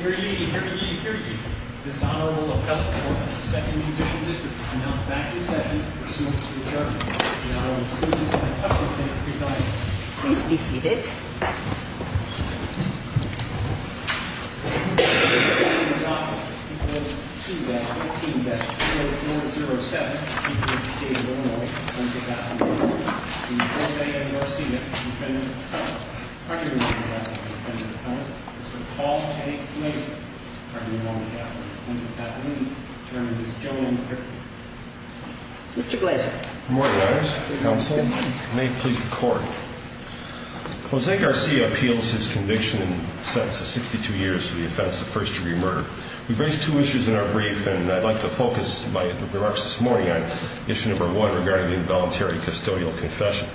Hear ye, hear ye, hear ye. This honorable appellate court of the 2nd Judicial District is now back in session pursuant to adjournment. The Honorable Susan T. Hutchinson, presiding. Please be seated. I'm very pleased to be in the office of the people of 2-0-18-4-0-0-7, the people of the state of Illinois, once again. Jose Garcia, Defendant of the Council, Pardon me, Mr. Counsel, Defendant of the Council, Mr. Paul T. Glazer, Pardon me, Honorable appellate, Attorney at the moment, termed as Joe M. Griffin. Mr. Glazer. Good morning, Your Honor, counsel, and may it please the court. Jose Garcia appeals his conviction and sentence of 62 years for the offense of first-degree murder. We've raised two issues in our brief, and I'd like to focus my remarks this morning on issue number one regarding the involuntary custodial confession.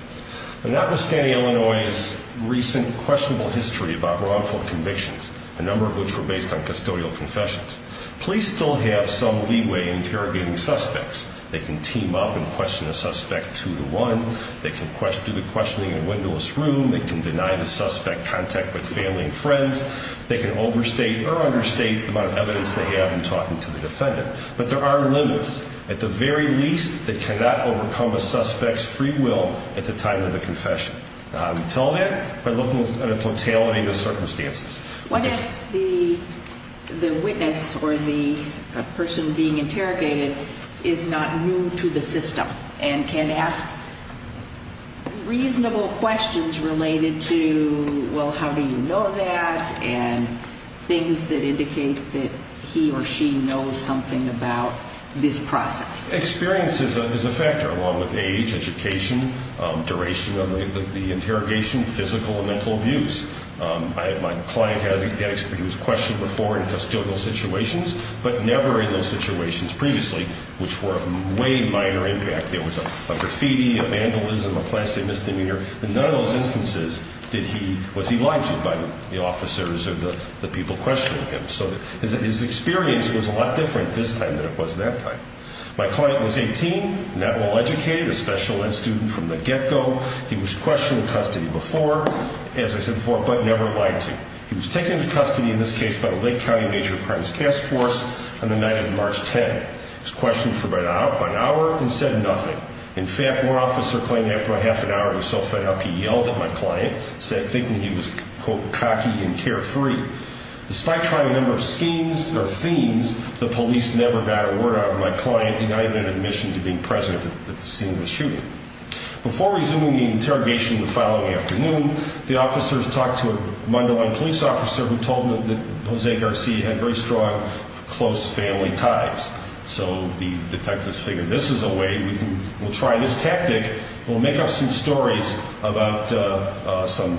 Notwithstanding Illinois' recent questionable history about wrongful convictions, a number of which were based on custodial confessions, police still have some leeway in interrogating suspects. They can team up and question a suspect two to one. They can do the questioning in a windowless room. They can deny the suspect contact with family and friends. They can overstate or understate the amount of evidence they have in talking to the defendant. But there are limits. At the very least, they cannot overcome a suspect's free will at the time of the confession. I would tell that by looking at the totality of the circumstances. What if the witness or the person being interrogated is not new to the system and can ask reasonable questions related to, well, how do you know that, and things that indicate that he or she knows something about this process? Experience is a factor, along with age, education, duration of the interrogation, physical and mental abuse. My client had experienced questioning before in custodial situations, but never in those situations previously, which were of way minor impact. There was a graffiti, a vandalism, a class A misdemeanor. In none of those instances was he lied to by the officers or the people questioning him. So his experience was a lot different this time than it was that time. My client was 18, not well educated, a special ed student from the get-go. He was questioned in custody before, as I said before, but never lied to. He was taken into custody in this case by the Lake County Major Crimes Task Force on the night of March 10. He was questioned for about an hour and said nothing. In fact, one officer claimed after a half an hour he was so fed up he yelled at my client, said thinking he was, quote, cocky and carefree. Despite trying a number of schemes or themes, the police never got a word out of my client and I have an admission to being present at the scene of the shooting. Before resuming the interrogation the following afternoon, the officers talked to a Mundelein police officer who told them that Jose Garcia had very strong close family ties. So the detectives figured this is a way, we'll try this tactic, we'll make up some stories about some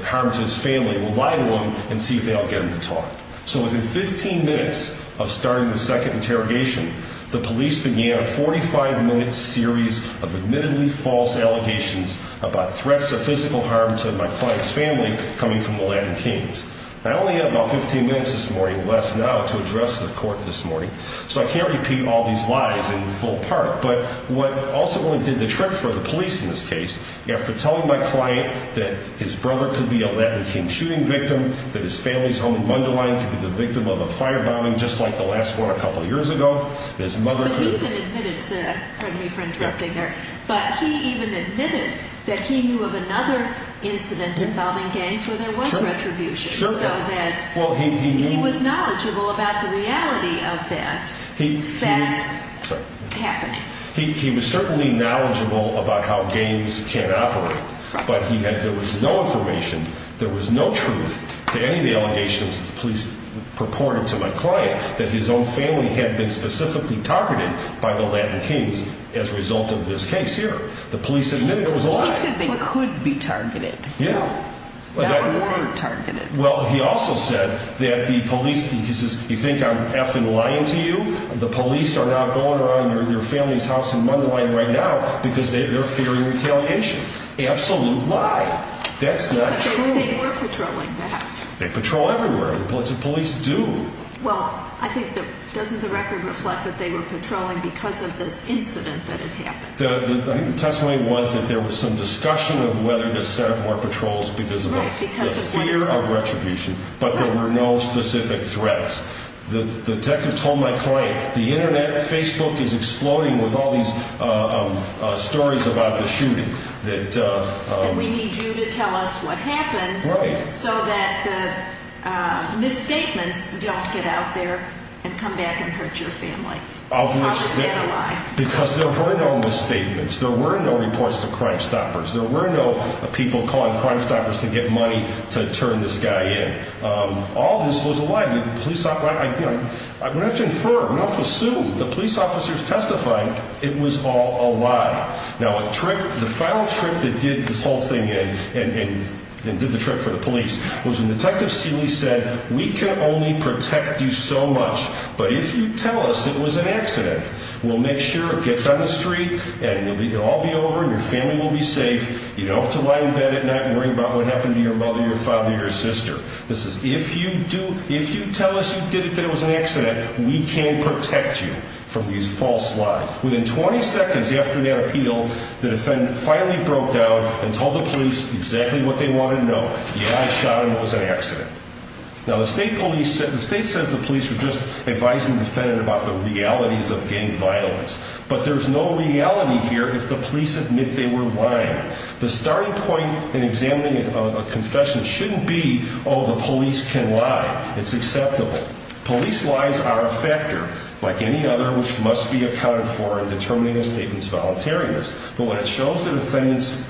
harm to his family, we'll lie to them and see if they'll get him to talk. So within 15 minutes of starting the second interrogation, the police began a 45-minute series of admittedly false allegations about threats or physical harm to my client's family coming from the Latin Kings. I only had about 15 minutes this morning, less now, to address the court this morning, so I can't repeat all these lies in full part. But what ultimately did the trick for the police in this case, after telling my client that his brother could be a Latin King shooting victim, that his family's home Mundelein could be the victim of a firebombing just like the last one a couple years ago, his mother could have been. But he even admitted to, pardon me for interrupting there, but he even admitted that he knew of another incident involving gangs where there was retribution. He was knowledgeable about the reality of that happening. He was certainly knowledgeable about how gangs can operate, but there was no information, there was no truth to any of the allegations that the police purported to my client that his own family had been specifically targeted by the Latin Kings as a result of this case here. The police admitted it was a lie. He said they could be targeted. Yeah. How could they be targeted? Well, he also said that the police, he says, you think I'm effing lying to you? The police are now going around your family's house in Mundelein right now because they're fearing retaliation. Absolute lie. That's not true. But they were patrolling the house. They patrol everywhere. The police do. Well, I think, doesn't the record reflect that they were patrolling because of this incident that had happened? I think the testimony was that there was some discussion of whether to set up more patrols because of the fear of retribution, but there were no specific threats. The detective told my client, the Internet, Facebook is exploding with all these stories about the shooting. And we need you to tell us what happened so that the misstatements don't get out there and come back and hurt your family. How is that a lie? Because there were no misstatements. There were no reports to Crimestoppers. There were no people calling Crimestoppers to get money to turn this guy in. All this was a lie. We don't have to infer. We don't have to assume. The police officers testifying, it was all a lie. Now, the final trick that did this whole thing in and did the trick for the police was when Detective Seeley said, we can only protect you so much, but if you tell us it was an accident, we'll make sure it gets on the street and it'll all be over and your family will be safe. You don't have to lie in bed at night and worry about what happened to your mother, your father, or your sister. This is, if you tell us you did it, that it was an accident, we can protect you from these false lies. Within 20 seconds after that appeal, the defendant finally broke down and told the police exactly what they wanted to know. Yeah, I shot him. It was an accident. Now, the state says the police are just advising the defendant about the realities of gang violence, but there's no reality here if the police admit they were lying. The starting point in examining a confession shouldn't be, oh, the police can lie. It's acceptable. Police lies are a factor, like any other, which must be accounted for in determining a statement's voluntariness. But when it shows the defendant's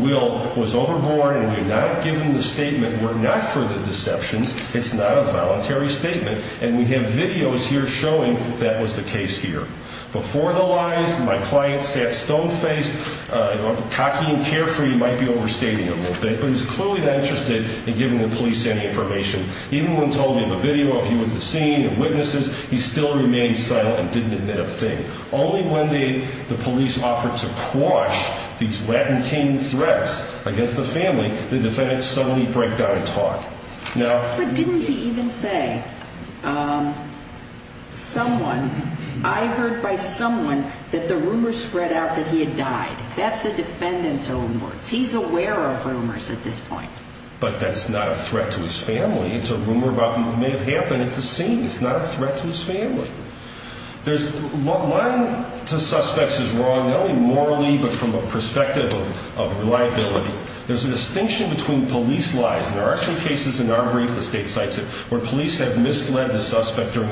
will was overboard and we have not given the statement, we're not for the deceptions, it's not a voluntary statement, and we have videos here showing that was the case here. Before the lies, my client sat stone-faced, cocky and carefree, might be overstating him a little bit, but he's clearly not interested in giving the police any information. Even when told we have a video of you at the scene and witnesses, he still remained silent and didn't admit a thing. Only when the police offered to quash these Latin King threats against the family, the defendant suddenly broke down and talked. But didn't he even say, I heard by someone that the rumors spread out that he had died? That's the defendant's own words. He's aware of rumors at this point. But that's not a threat to his family. It's a rumor about what may have happened at the scene. It's not a threat to his family. Lying to suspects is wrong, not only morally, but from a perspective of reliability. There's a distinction between police lies, and there are some cases in our brief, the state cites it, where police have misled the suspect during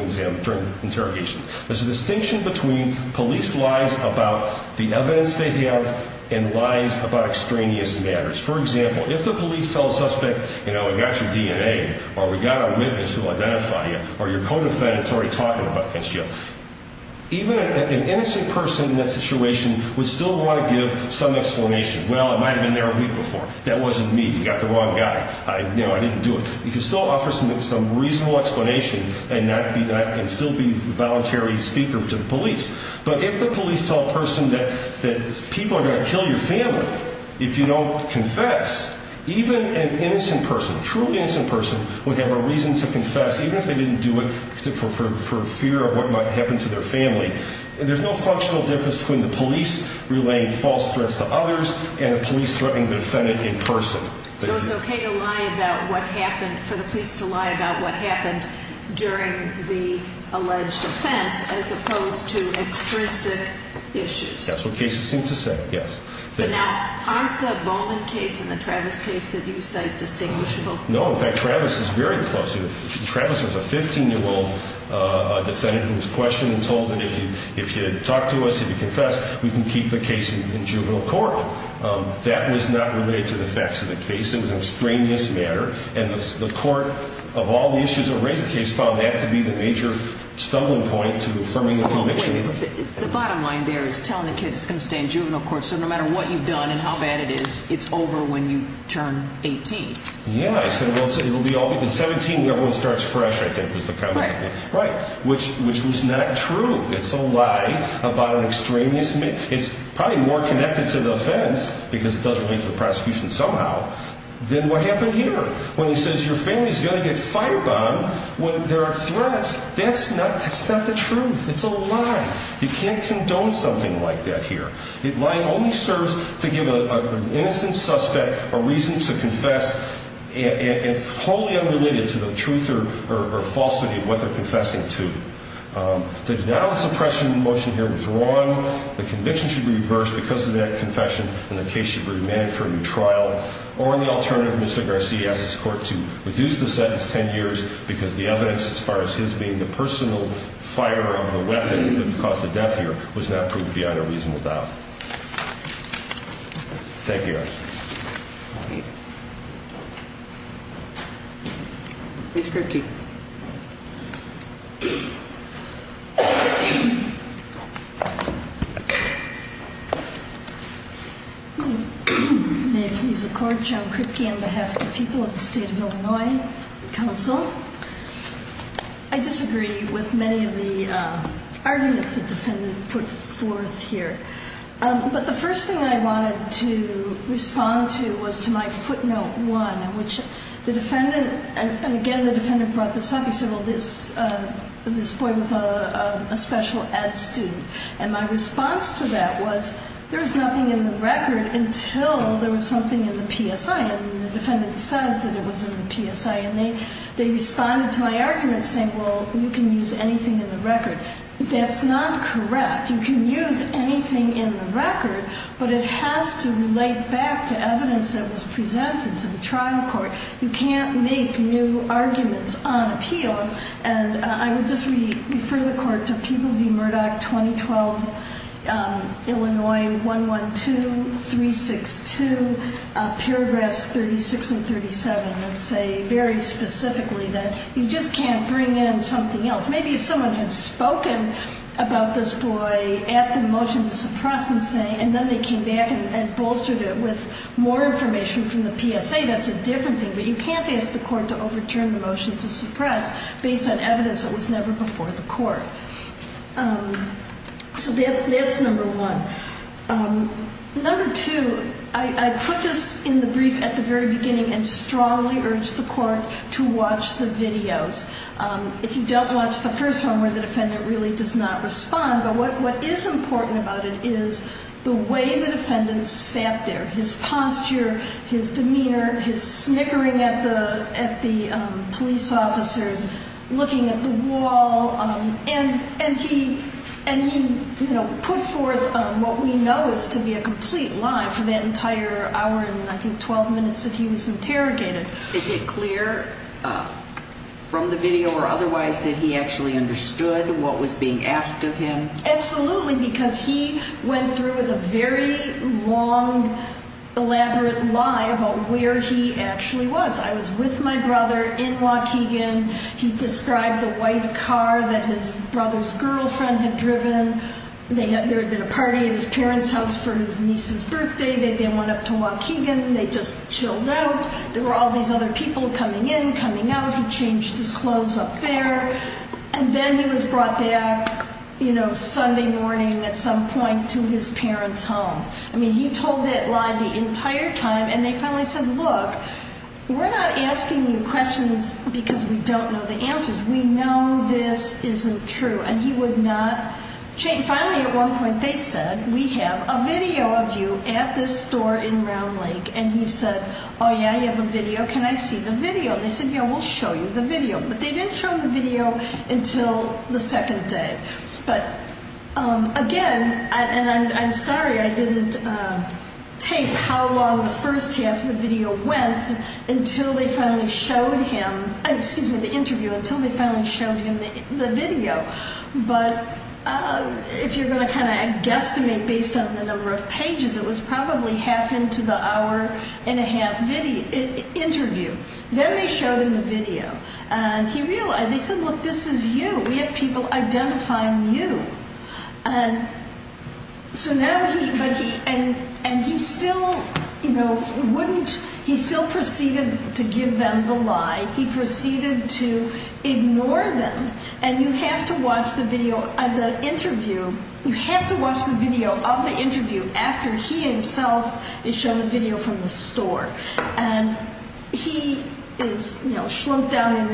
interrogation. There's a distinction between police lies about the evidence they have and lies about extraneous matters. For example, if the police tell a suspect, you know, we got your DNA, or we got our witness who will identify you, or your co-defendant's already talking about it against you, even an innocent person in that situation would still want to give some explanation. Well, I might have been there a week before. That wasn't me. You got the wrong guy. You know, I didn't do it. You can still offer some reasonable explanation and still be a voluntary speaker to the police. But if the police tell a person that people are going to kill your family if you don't confess, even an innocent person, a truly innocent person, would have a reason to confess, even if they didn't do it for fear of what might happen to their family. There's no functional difference between the police relaying false threats to others and the police threatening the defendant in person. So it's okay to lie about what happened, for the police to lie about what happened during the alleged offense as opposed to extrinsic issues. That's what cases seem to say, yes. But now, aren't the Bowman case and the Travis case that you cite distinguishable? No. In fact, Travis is very close. Travis is a 15-year-old defendant who was questioned and told that if you talk to us, if you confess, we can keep the case in juvenile court. That was not related to the facts of the case. It was an extraneous matter. And the court, of all the issues that raised the case, found that to be the major stumbling point to affirming the conviction. The bottom line there is telling the kid it's going to stay in juvenile court so no matter what you've done and how bad it is, it's over when you turn 18. Yeah, I said, well, it'll be over when you turn 17 and everyone starts fresh, I think was the comment. Right. Which was not true. It's a lie about an extraneous matter. It's probably more connected to the offense, because it does relate to the prosecution somehow, than what happened here. When he says your family's going to get fired on when there are threats, that's not the truth. It's a lie. You can't condone something like that here. Lying only serves to give an innocent suspect a reason to confess and it's wholly unrelated to the truth or falsity of what they're confessing to. The denial of suppression motion here was wrong. The conviction should be reversed because of that confession and the case should be remanded for a new trial. Or the alternative, Mr. Garcia asked his court to reduce the sentence 10 years because the evidence as far as his being the personal fire of the weapon that caused the death here was not proof beyond a reasonable doubt. Thank you, Your Honor. Ms. Kripke. May it please the Court, John Kripke on behalf of the people of the State of Illinois Council. I disagree with many of the arguments the defendant put forth here. But the first thing I wanted to respond to was to my footnote one in which the defendant, and again the defendant brought this up, he said, well, this boy was a special ed student. And my response to that was, there was nothing in the record until there was something in the PSI and the defendant says that it was in the PSI and they responded to my argument saying, well, you can use anything in the record. That's not correct. You can use anything in the record, but it has to relate back to evidence that was presented to the trial court. You can't make new arguments on appeal. And I would just refer the Court to People v. Murdoch, 2012, Illinois 112-362, paragraphs 36 and 37, that say very specifically that you just can't bring in something else. Maybe if someone had spoken about this boy at the motion to suppress and then they came back and bolstered it with more information from the PSA, that's a different thing. But you can't ask the Court to overturn the motion to suppress based on evidence that was never before the Court. So that's number one. Number two, I put this in the brief at the very beginning and strongly urge the Court to watch the videos. If you don't watch the first one where the defendant really does not respond, but what is important about it is the way the defendant sat there, his posture, his demeanor, his snickering at the police officers, looking at the wall, and he put forth what we know is to be a complete lie for that entire hour and, I think, 12 minutes that he was interrogated. Is it clear from the video or otherwise that he actually understood what was being asked of him? Absolutely, because he went through with a very long, elaborate lie about where he actually was. I was with my brother in Waukegan. He described the white car that his brother's girlfriend had driven. There had been a party at his parents' house for his niece's birthday. They then went up to Waukegan and they just chilled out. There were all these other people coming in, coming out. He changed his clothes up there, and then he was brought back Sunday morning at some point to his parents' home. I mean, he told that lie the entire time, and they finally said, Look, we're not asking you questions because we don't know the answers. We know this isn't true, and he would not change. Finally, at one point, they said, We have a video of you at this store in Round Lake, and he said, Oh, yeah, you have a video. Can I see the video? They said, Yeah, we'll show you the video. But they didn't show him the video until the second day. But again, and I'm sorry I didn't take how long the first half of the video went until they finally showed him the video. But if you're going to kind of guesstimate based on the number of pages, it was probably half into the hour-and-a-half interview. Then they showed him the video, and he realized. They said, Look, this is you. We have people identifying you. And he still proceeded to give them the lie. He proceeded to ignore them, and you have to watch the video of the interview. After he himself is shown the video from the store. He is slumped down in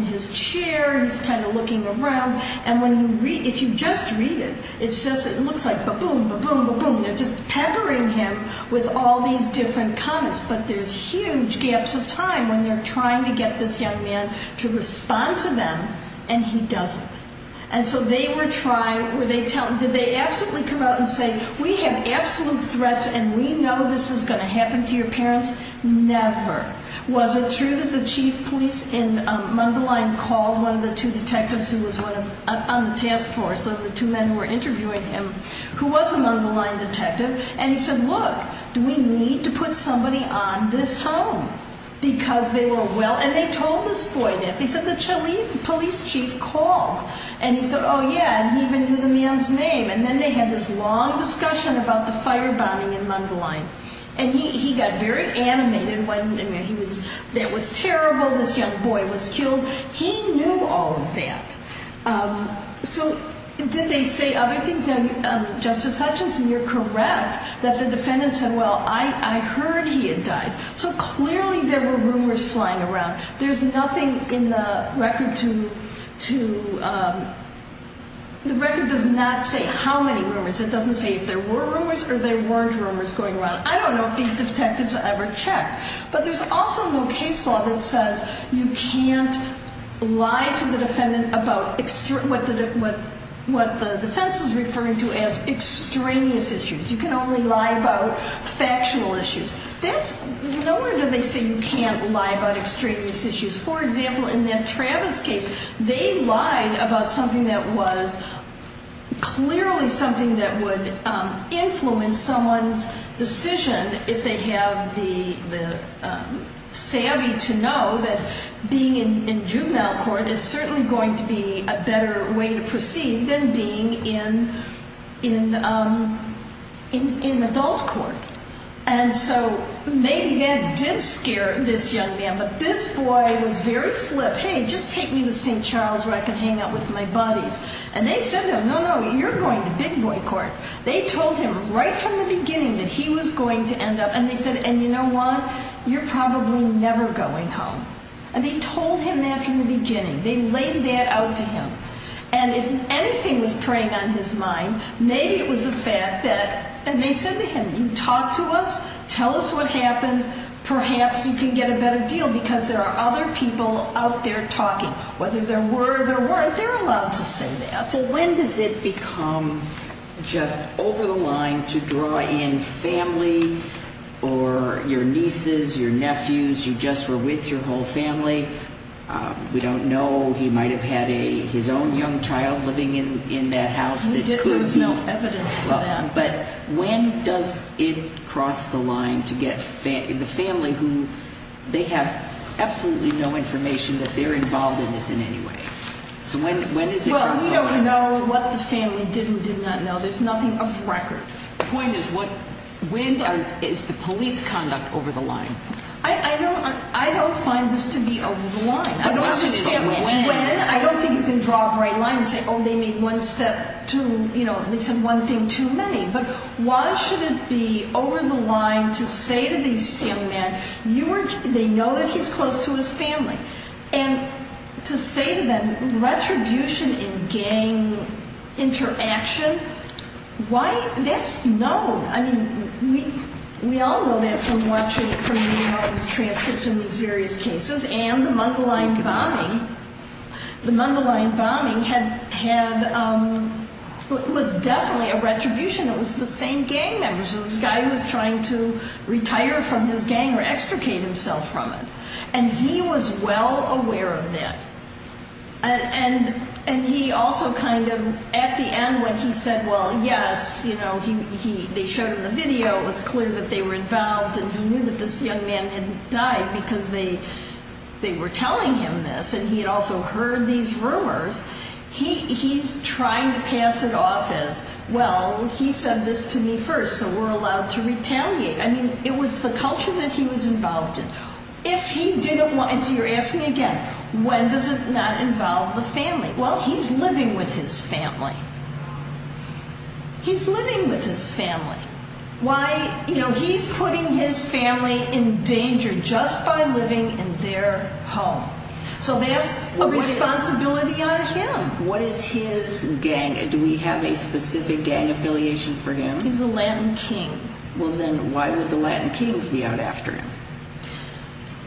his chair. He's kind of looking around. If you just read it, it looks like ba-boom, ba-boom, ba-boom. They're just peckering him with all these different comments. But there's huge gaps of time when they're trying to get this young man to respond to them, and he doesn't. And so they were trying. Did they absolutely come out and say, We have absolute threats, and we know this is going to happen to your parents? Never. Was it true that the chief police in Mundelein called one of the two detectives who was on the task force, one of the two men who were interviewing him, who was a Mundelein detective, and he said, Look, do we need to put somebody on this home? And they told this boy that. They said the police chief called. And he said, Oh, yeah, and he even knew the man's name. And then they had this long discussion about the firebombing in Mundelein. And he got very animated. That was terrible. This young boy was killed. He knew all of that. So did they say other things? Justice Hutchinson, you're correct that the defendant said, Well, I heard he had died. So clearly there were rumors flying around. There's nothing in the record to – the record does not say how many rumors. It doesn't say if there were rumors or there weren't rumors going around. I don't know if these detectives ever checked. But there's also no case law that says you can't lie to the defendant about what the defense is referring to as extraneous issues. You can only lie about factual issues. No wonder they say you can't lie about extraneous issues. For example, in that Travis case, they lied about something that was clearly something that would influence someone's decision if they have the savvy to know that being in juvenile court is certainly going to be a better way to proceed than being in adult court. And so maybe that did scare this young man. But this boy was very flip. Hey, just take me to St. Charles where I can hang out with my buddies. And they said to him, No, no, you're going to big boy court. They told him right from the beginning that he was going to end up – and they said, And you know what? You're probably never going home. And they told him that from the beginning. They laid that out to him. And if anything was preying on his mind, maybe it was the fact that – Talk to us. Tell us what happened. Perhaps you can get a better deal because there are other people out there talking. Whether there were or there weren't, they're allowed to say that. So when does it become just over the line to draw in family or your nieces, your nephews, you just were with your whole family? We don't know. He might have had his own young child living in that house. There was no evidence to that. But when does it cross the line to get the family who – they have absolutely no information that they're involved in this in any way. So when does it cross the line? Well, we don't know what the family did and did not know. There's nothing of record. The point is when is the police conduct over the line? I don't find this to be over the line. The question is when. I don't think you can draw a bright line and say, Oh, they made one step too – but why should it be over the line to say to these young men, they know that he's close to his family, and to say to them retribution in gang interaction, why – that's known. I mean, we all know that from reading all these transcripts in these various cases and the Mundelein bombing. It was definitely a retribution. It was the same gang members. It was a guy who was trying to retire from his gang or extricate himself from it. And he was well aware of that. And he also kind of, at the end, when he said, Well, yes, you know, they showed him the video, it was clear that they were involved, and he knew that this young man had died because they were telling him this. And he had also heard these rumors. He's trying to pass it off as, Well, he said this to me first, so we're allowed to retaliate. I mean, it was the culture that he was involved in. If he didn't want – and so you're asking again, when does it not involve the family? Well, he's living with his family. He's living with his family. Why – you know, he's putting his family in danger just by living in their home. So that's a responsibility on him. What is his gang? Do we have a specific gang affiliation for him? He's a Latin king. Well, then why would the Latin kings be out after him?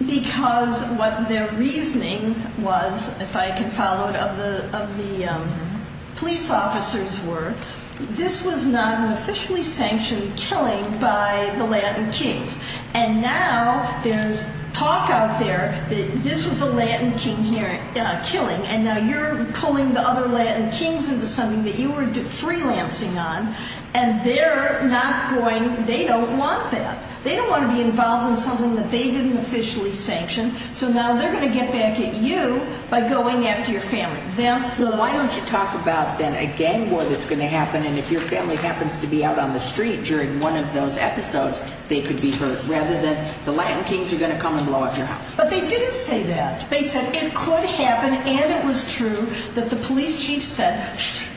Because what their reasoning was, if I can follow it, of the police officers were, this was not an officially sanctioned killing by the Latin kings. And now there's talk out there that this was a Latin king killing, and now you're pulling the other Latin kings into something that you were freelancing on, and they're not going – they don't want that. They don't want to be involved in something that they didn't officially sanction. So now they're going to get back at you by going after your family. Well, why don't you talk about then a gang war that's going to happen, and if your family happens to be out on the street during one of those episodes, they could be hurt rather than the Latin kings are going to come and blow up your house. But they didn't say that. They said it could happen, and it was true, that the police chief said,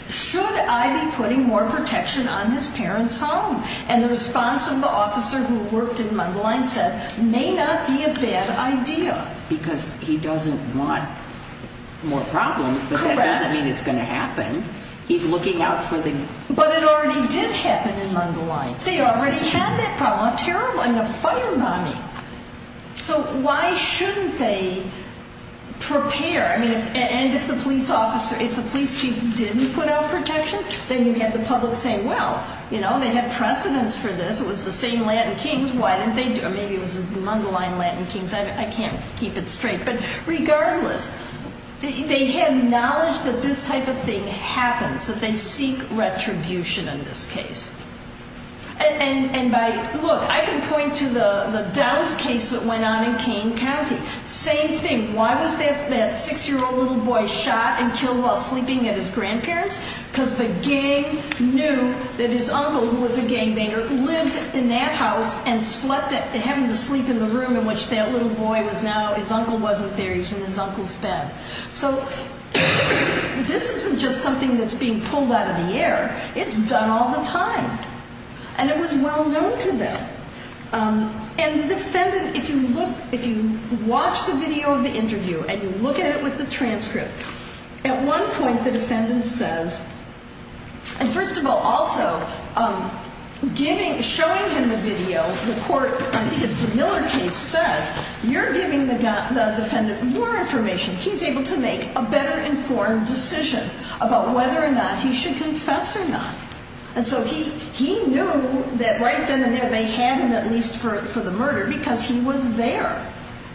should I be putting more protection on his parents' home? And the response of the officer who worked in Mundelein said, may not be a bad idea. Because he doesn't want more problems, but that doesn't mean it's going to happen. He's looking out for the – But it already did happen in Mundelein. They already had that problem. A terrible – a fire bombing. So why shouldn't they prepare? I mean, and if the police officer – if the police chief didn't put out protection, then you have the public saying, well, you know, they had precedence for this. It was the same Latin kings. Why didn't they do it? Or maybe it was the Mundelein Latin kings. I can't keep it straight. But regardless, they had knowledge that this type of thing happens, that they seek retribution in this case. And by – look, I can point to the Dallas case that went on in Kane County. Same thing. Why was that 6-year-old little boy shot and killed while sleeping at his grandparents? Because the gang knew that his uncle, who was a gangbanger, lived in that house and slept at – having to sleep in the room in which that little boy was now – his uncle wasn't there. He was in his uncle's bed. So this isn't just something that's being pulled out of the air. It's done all the time. And it was well known to them. And the defendant – if you watch the video of the interview and you look at it with the transcript, at one point the defendant says – and first of all, also, giving – showing him the video, the court – I think it's the Miller case – says, you're giving the defendant more information. He's able to make a better informed decision about whether or not he should confess or not. And so he knew that right then and there they had him, at least for the murder, because he was there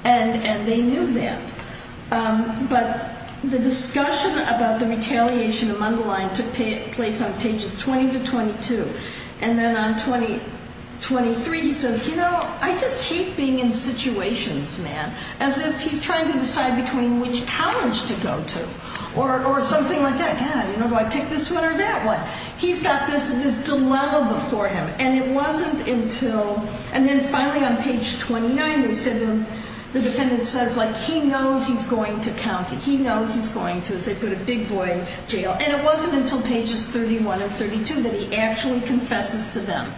and they knew that. But the discussion about the retaliation among the line took place on pages 20 to 22. And then on 23 he says, you know, I just hate being in situations, man, as if he's trying to decide between which college to go to or something like that. God, you know, do I take this one or that one? He's got this dilemma for him. And it wasn't until – and then finally on page 29 they said – the defendant says, like, he knows he's going to county. He knows he's going to, as they put it, big boy jail. And it wasn't until pages 31 and 32 that he actually confesses to them.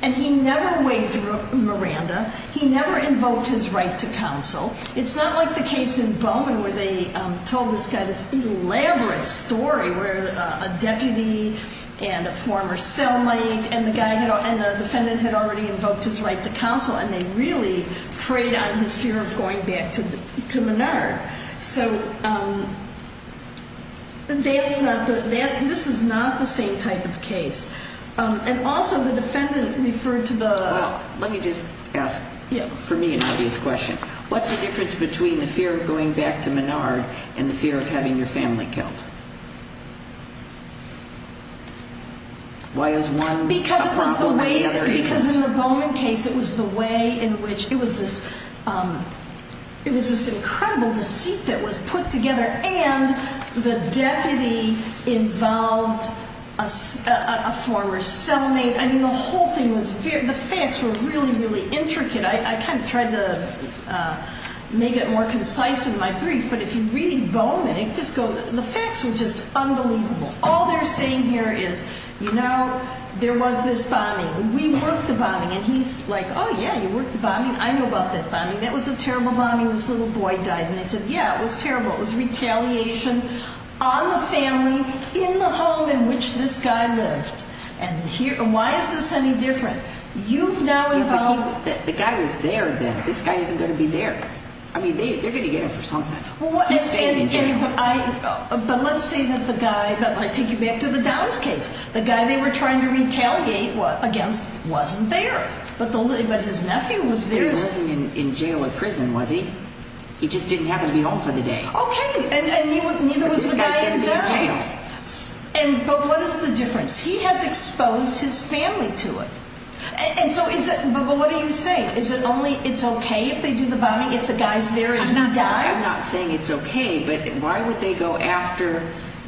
And he never waived Miranda. He never invoked his right to counsel. It's not like the case in Bowman where they told this guy this elaborate story where a deputy and a former cell mate and the defendant had already invoked his right to counsel and they really preyed on his fear of going back to Menard. So that's not – this is not the same type of case. And also the defendant referred to the – Well, let me just ask, for me, an obvious question. What's the difference between the fear of going back to Menard and the fear of having your family killed? Why is one a problem and the other isn't? Because in the Bowman case it was the way in which – it was this incredible deceit that was put together and the deputy involved a former cell mate. I mean, the whole thing was – the facts were really, really intricate. I kind of tried to make it more concise in my brief. But if you read Bowman, it just goes – the facts were just unbelievable. All they're saying here is, you know, there was this bombing. We worked the bombing. And he's like, oh, yeah, you worked the bombing. I know about that bombing. That was a terrible bombing. This little boy died. And they said, yeah, it was terrible. It was retaliation on the family, in the home in which this guy lived. And why is this any different? You've now involved – The guy was there then. This guy isn't going to be there. I mean, they're going to get him for something. He stayed in jail. But let's say that the guy – but I take you back to the Downs case. The guy they were trying to retaliate against wasn't there. But his nephew was there. He wasn't in jail or prison, was he? He just didn't happen to be home for the day. Okay. And neither was the guy in Downs. But this guy's going to be in jail. But what is the difference? He has exposed his family to it. And so is it – but what are you saying? Is it only it's okay if they do the bombing if the guy's there and he dies? I'm not saying it's okay. But why would they go after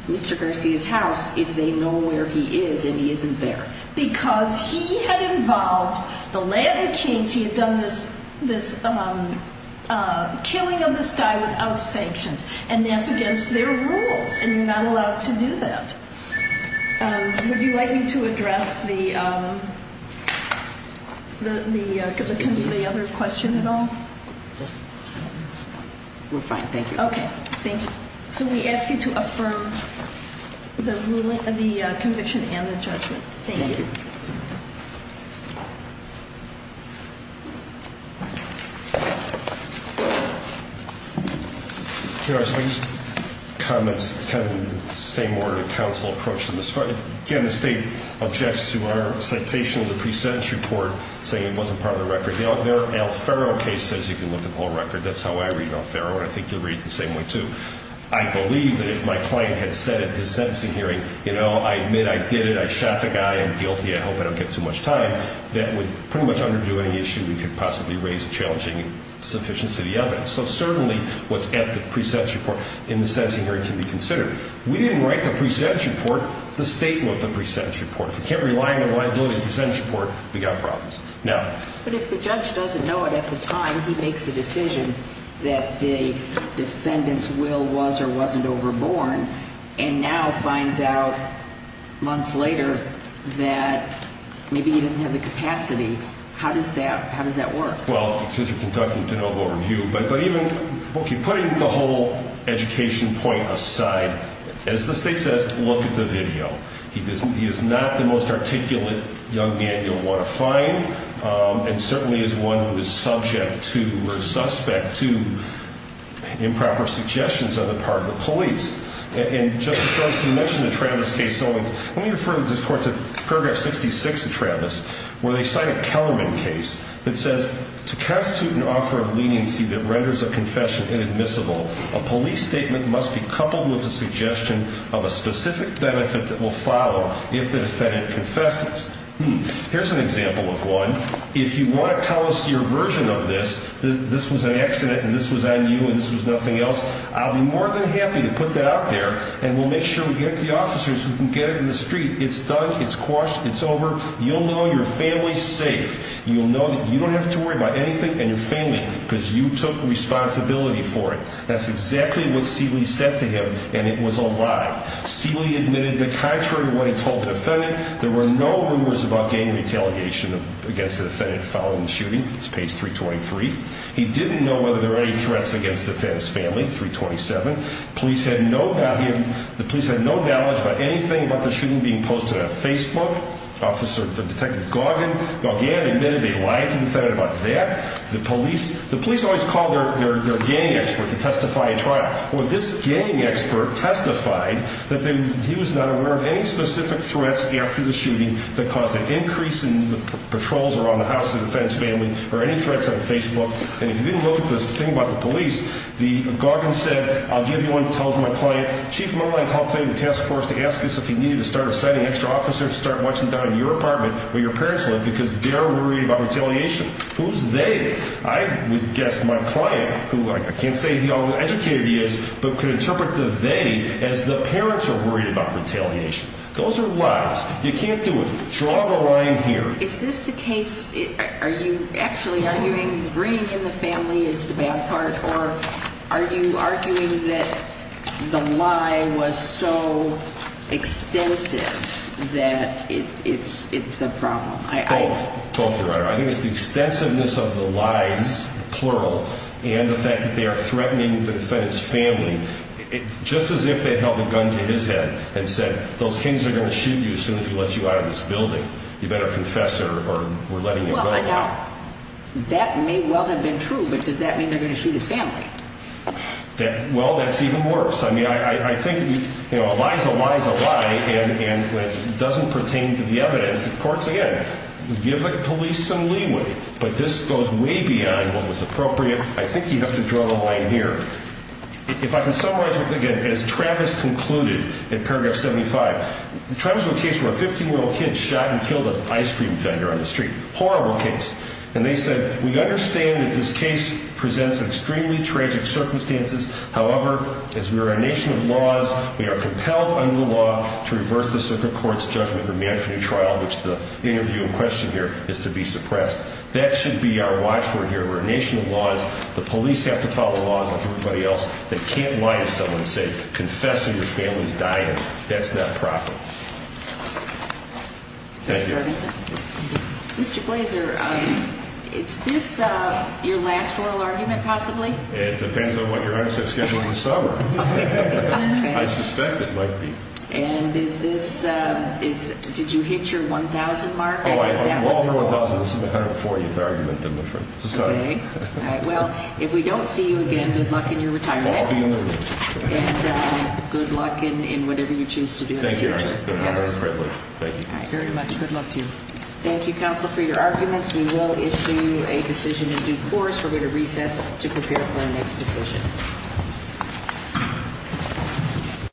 Mr. Garcia's house if they know where he is and he isn't there? Because he had involved the Latin Kings. He had done this killing of this guy without sanctions. And that's against their rules. And you're not allowed to do that. Would you like me to address the other question at all? We're fine. Thank you. Okay. Thank you. So we ask you to affirm the ruling – the conviction and the judgment. Thank you. Thank you. Your Honor, so I just – comments kind of in the same order that counsel approached them as far – again, the State objects to our citation of the pre-sentence report saying it wasn't part of the record. The Alfaro case says you can look at the whole record. That's how I read Alfaro. And I think you'll read it the same way too. I believe that if my client had said at his sentencing hearing, you know, I admit I did it, I shot the guy, I'm guilty, I hope I don't get too much time, that would pretty much underdo any issue that could possibly raise a challenging sufficiency of the evidence. So certainly what's at the pre-sentence report in the sentencing hearing can be considered. We didn't write the pre-sentence report. The State wrote the pre-sentence report. If we can't rely on the liability of the pre-sentence report, we've got problems. Now – But if the judge doesn't know it at the time, he makes a decision that the defendant's will was or wasn't overborne and now finds out months later that maybe he doesn't have the capacity, how does that work? Well, because you're conducting de novo review. But even – okay, putting the whole education point aside, as the State says, look at the video. He is not the most articulate young man you'll want to find and certainly is one who is subject to or suspect to improper suggestions on the part of the police. And, Justice Garza, you mentioned the Travis case. Let me refer this court to Paragraph 66 of Travis where they cite a Kellerman case that says, to constitute an offer of leniency that renders a confession inadmissible, a police statement must be coupled with a suggestion of a specific benefit that will follow if the defendant confesses. Here's an example of one. If you want to tell us your version of this, this was an accident and this was on you and this was nothing else, I'll be more than happy to put that out there and we'll make sure we get the officers who can get it in the street. It's done, it's quashed, it's over. You'll know your family's safe. You'll know that you don't have to worry about anything and your family because you took responsibility for it. That's exactly what Seeley said to him and it was a lie. Seeley admitted that contrary to what he told the defendant, there were no rumors about gang retaliation against the defendant following the shooting. It's page 323. He didn't know whether there were any threats against the defendant's family, 327. The police had no knowledge about anything about the shooting being posted on Facebook. Detective Gauguin admitted they lied to the defendant about that. The police always call their gang expert to testify in trial. Well, this gang expert testified that he was not aware of any specific threats after the shooting that caused an increase in patrols around the house of the defendant's family or any threats on Facebook. And if you didn't know the thing about the police, Gauguin said, I'll give you one that tells my client, Chief Mullen, I'll tell you the task force to ask us if he needed to start assigning extra officers, start watching down in your apartment where your parents live because they're worried about retaliation. Who's they? I would guess my client, who I can't say how educated he is, but could interpret the they as the parents are worried about retaliation. Those are lies. You can't do it. Draw the line here. Is this the case? Are you actually arguing bringing in the family is the bad part? Or are you arguing that the lie was so extensive that it's a problem? Both. Both are right. I think it's the extensiveness of the lies, plural, and the fact that they are threatening the defendant's family, just as if they held a gun to his head and said, those kings are going to shoot you as soon as he lets you out of this building. You better confess or we're letting you out. That may well have been true. But does that mean they're going to shoot his family? Well, that's even worse. I mean, I think a lie is a lie is a lie. And when it doesn't pertain to the evidence, of course, again, give the police some leeway. But this goes way beyond what was appropriate. I think you have to draw the line here. If I can summarize it again, as Travis concluded in paragraph 75, Travis wrote a case where a 15-year-old kid shot and killed an ice cream vendor on the street. Horrible case. And they said, we understand that this case presents extremely tragic circumstances. However, as we are a nation of laws, we are compelled under the law to reverse the circuit court's judgment and remand for new trial, which the interview in question here is to be suppressed. That should be our watchword here. We're a nation of laws. The police have to follow laws like everybody else that can't lie to someone and say, confess and your family's dying. That's not proper. Thank you. Mr. Blazer, is this your last oral argument, possibly? It depends on what your hours have scheduled this summer. I suspect it might be. And is this, did you hit your 1,000 mark? Oh, I walked my 1,000. This is my 140th argument. Well, if we don't see you again, good luck in your retirement. I'll be in the room. And good luck in whatever you choose to do in the future. Thank you, Your Honor. It's been a great pleasure. Thank you very much. Good luck to you. Thank you, counsel, for your arguments. We will issue a decision in due course. We're going to recess to prepare for our next decision.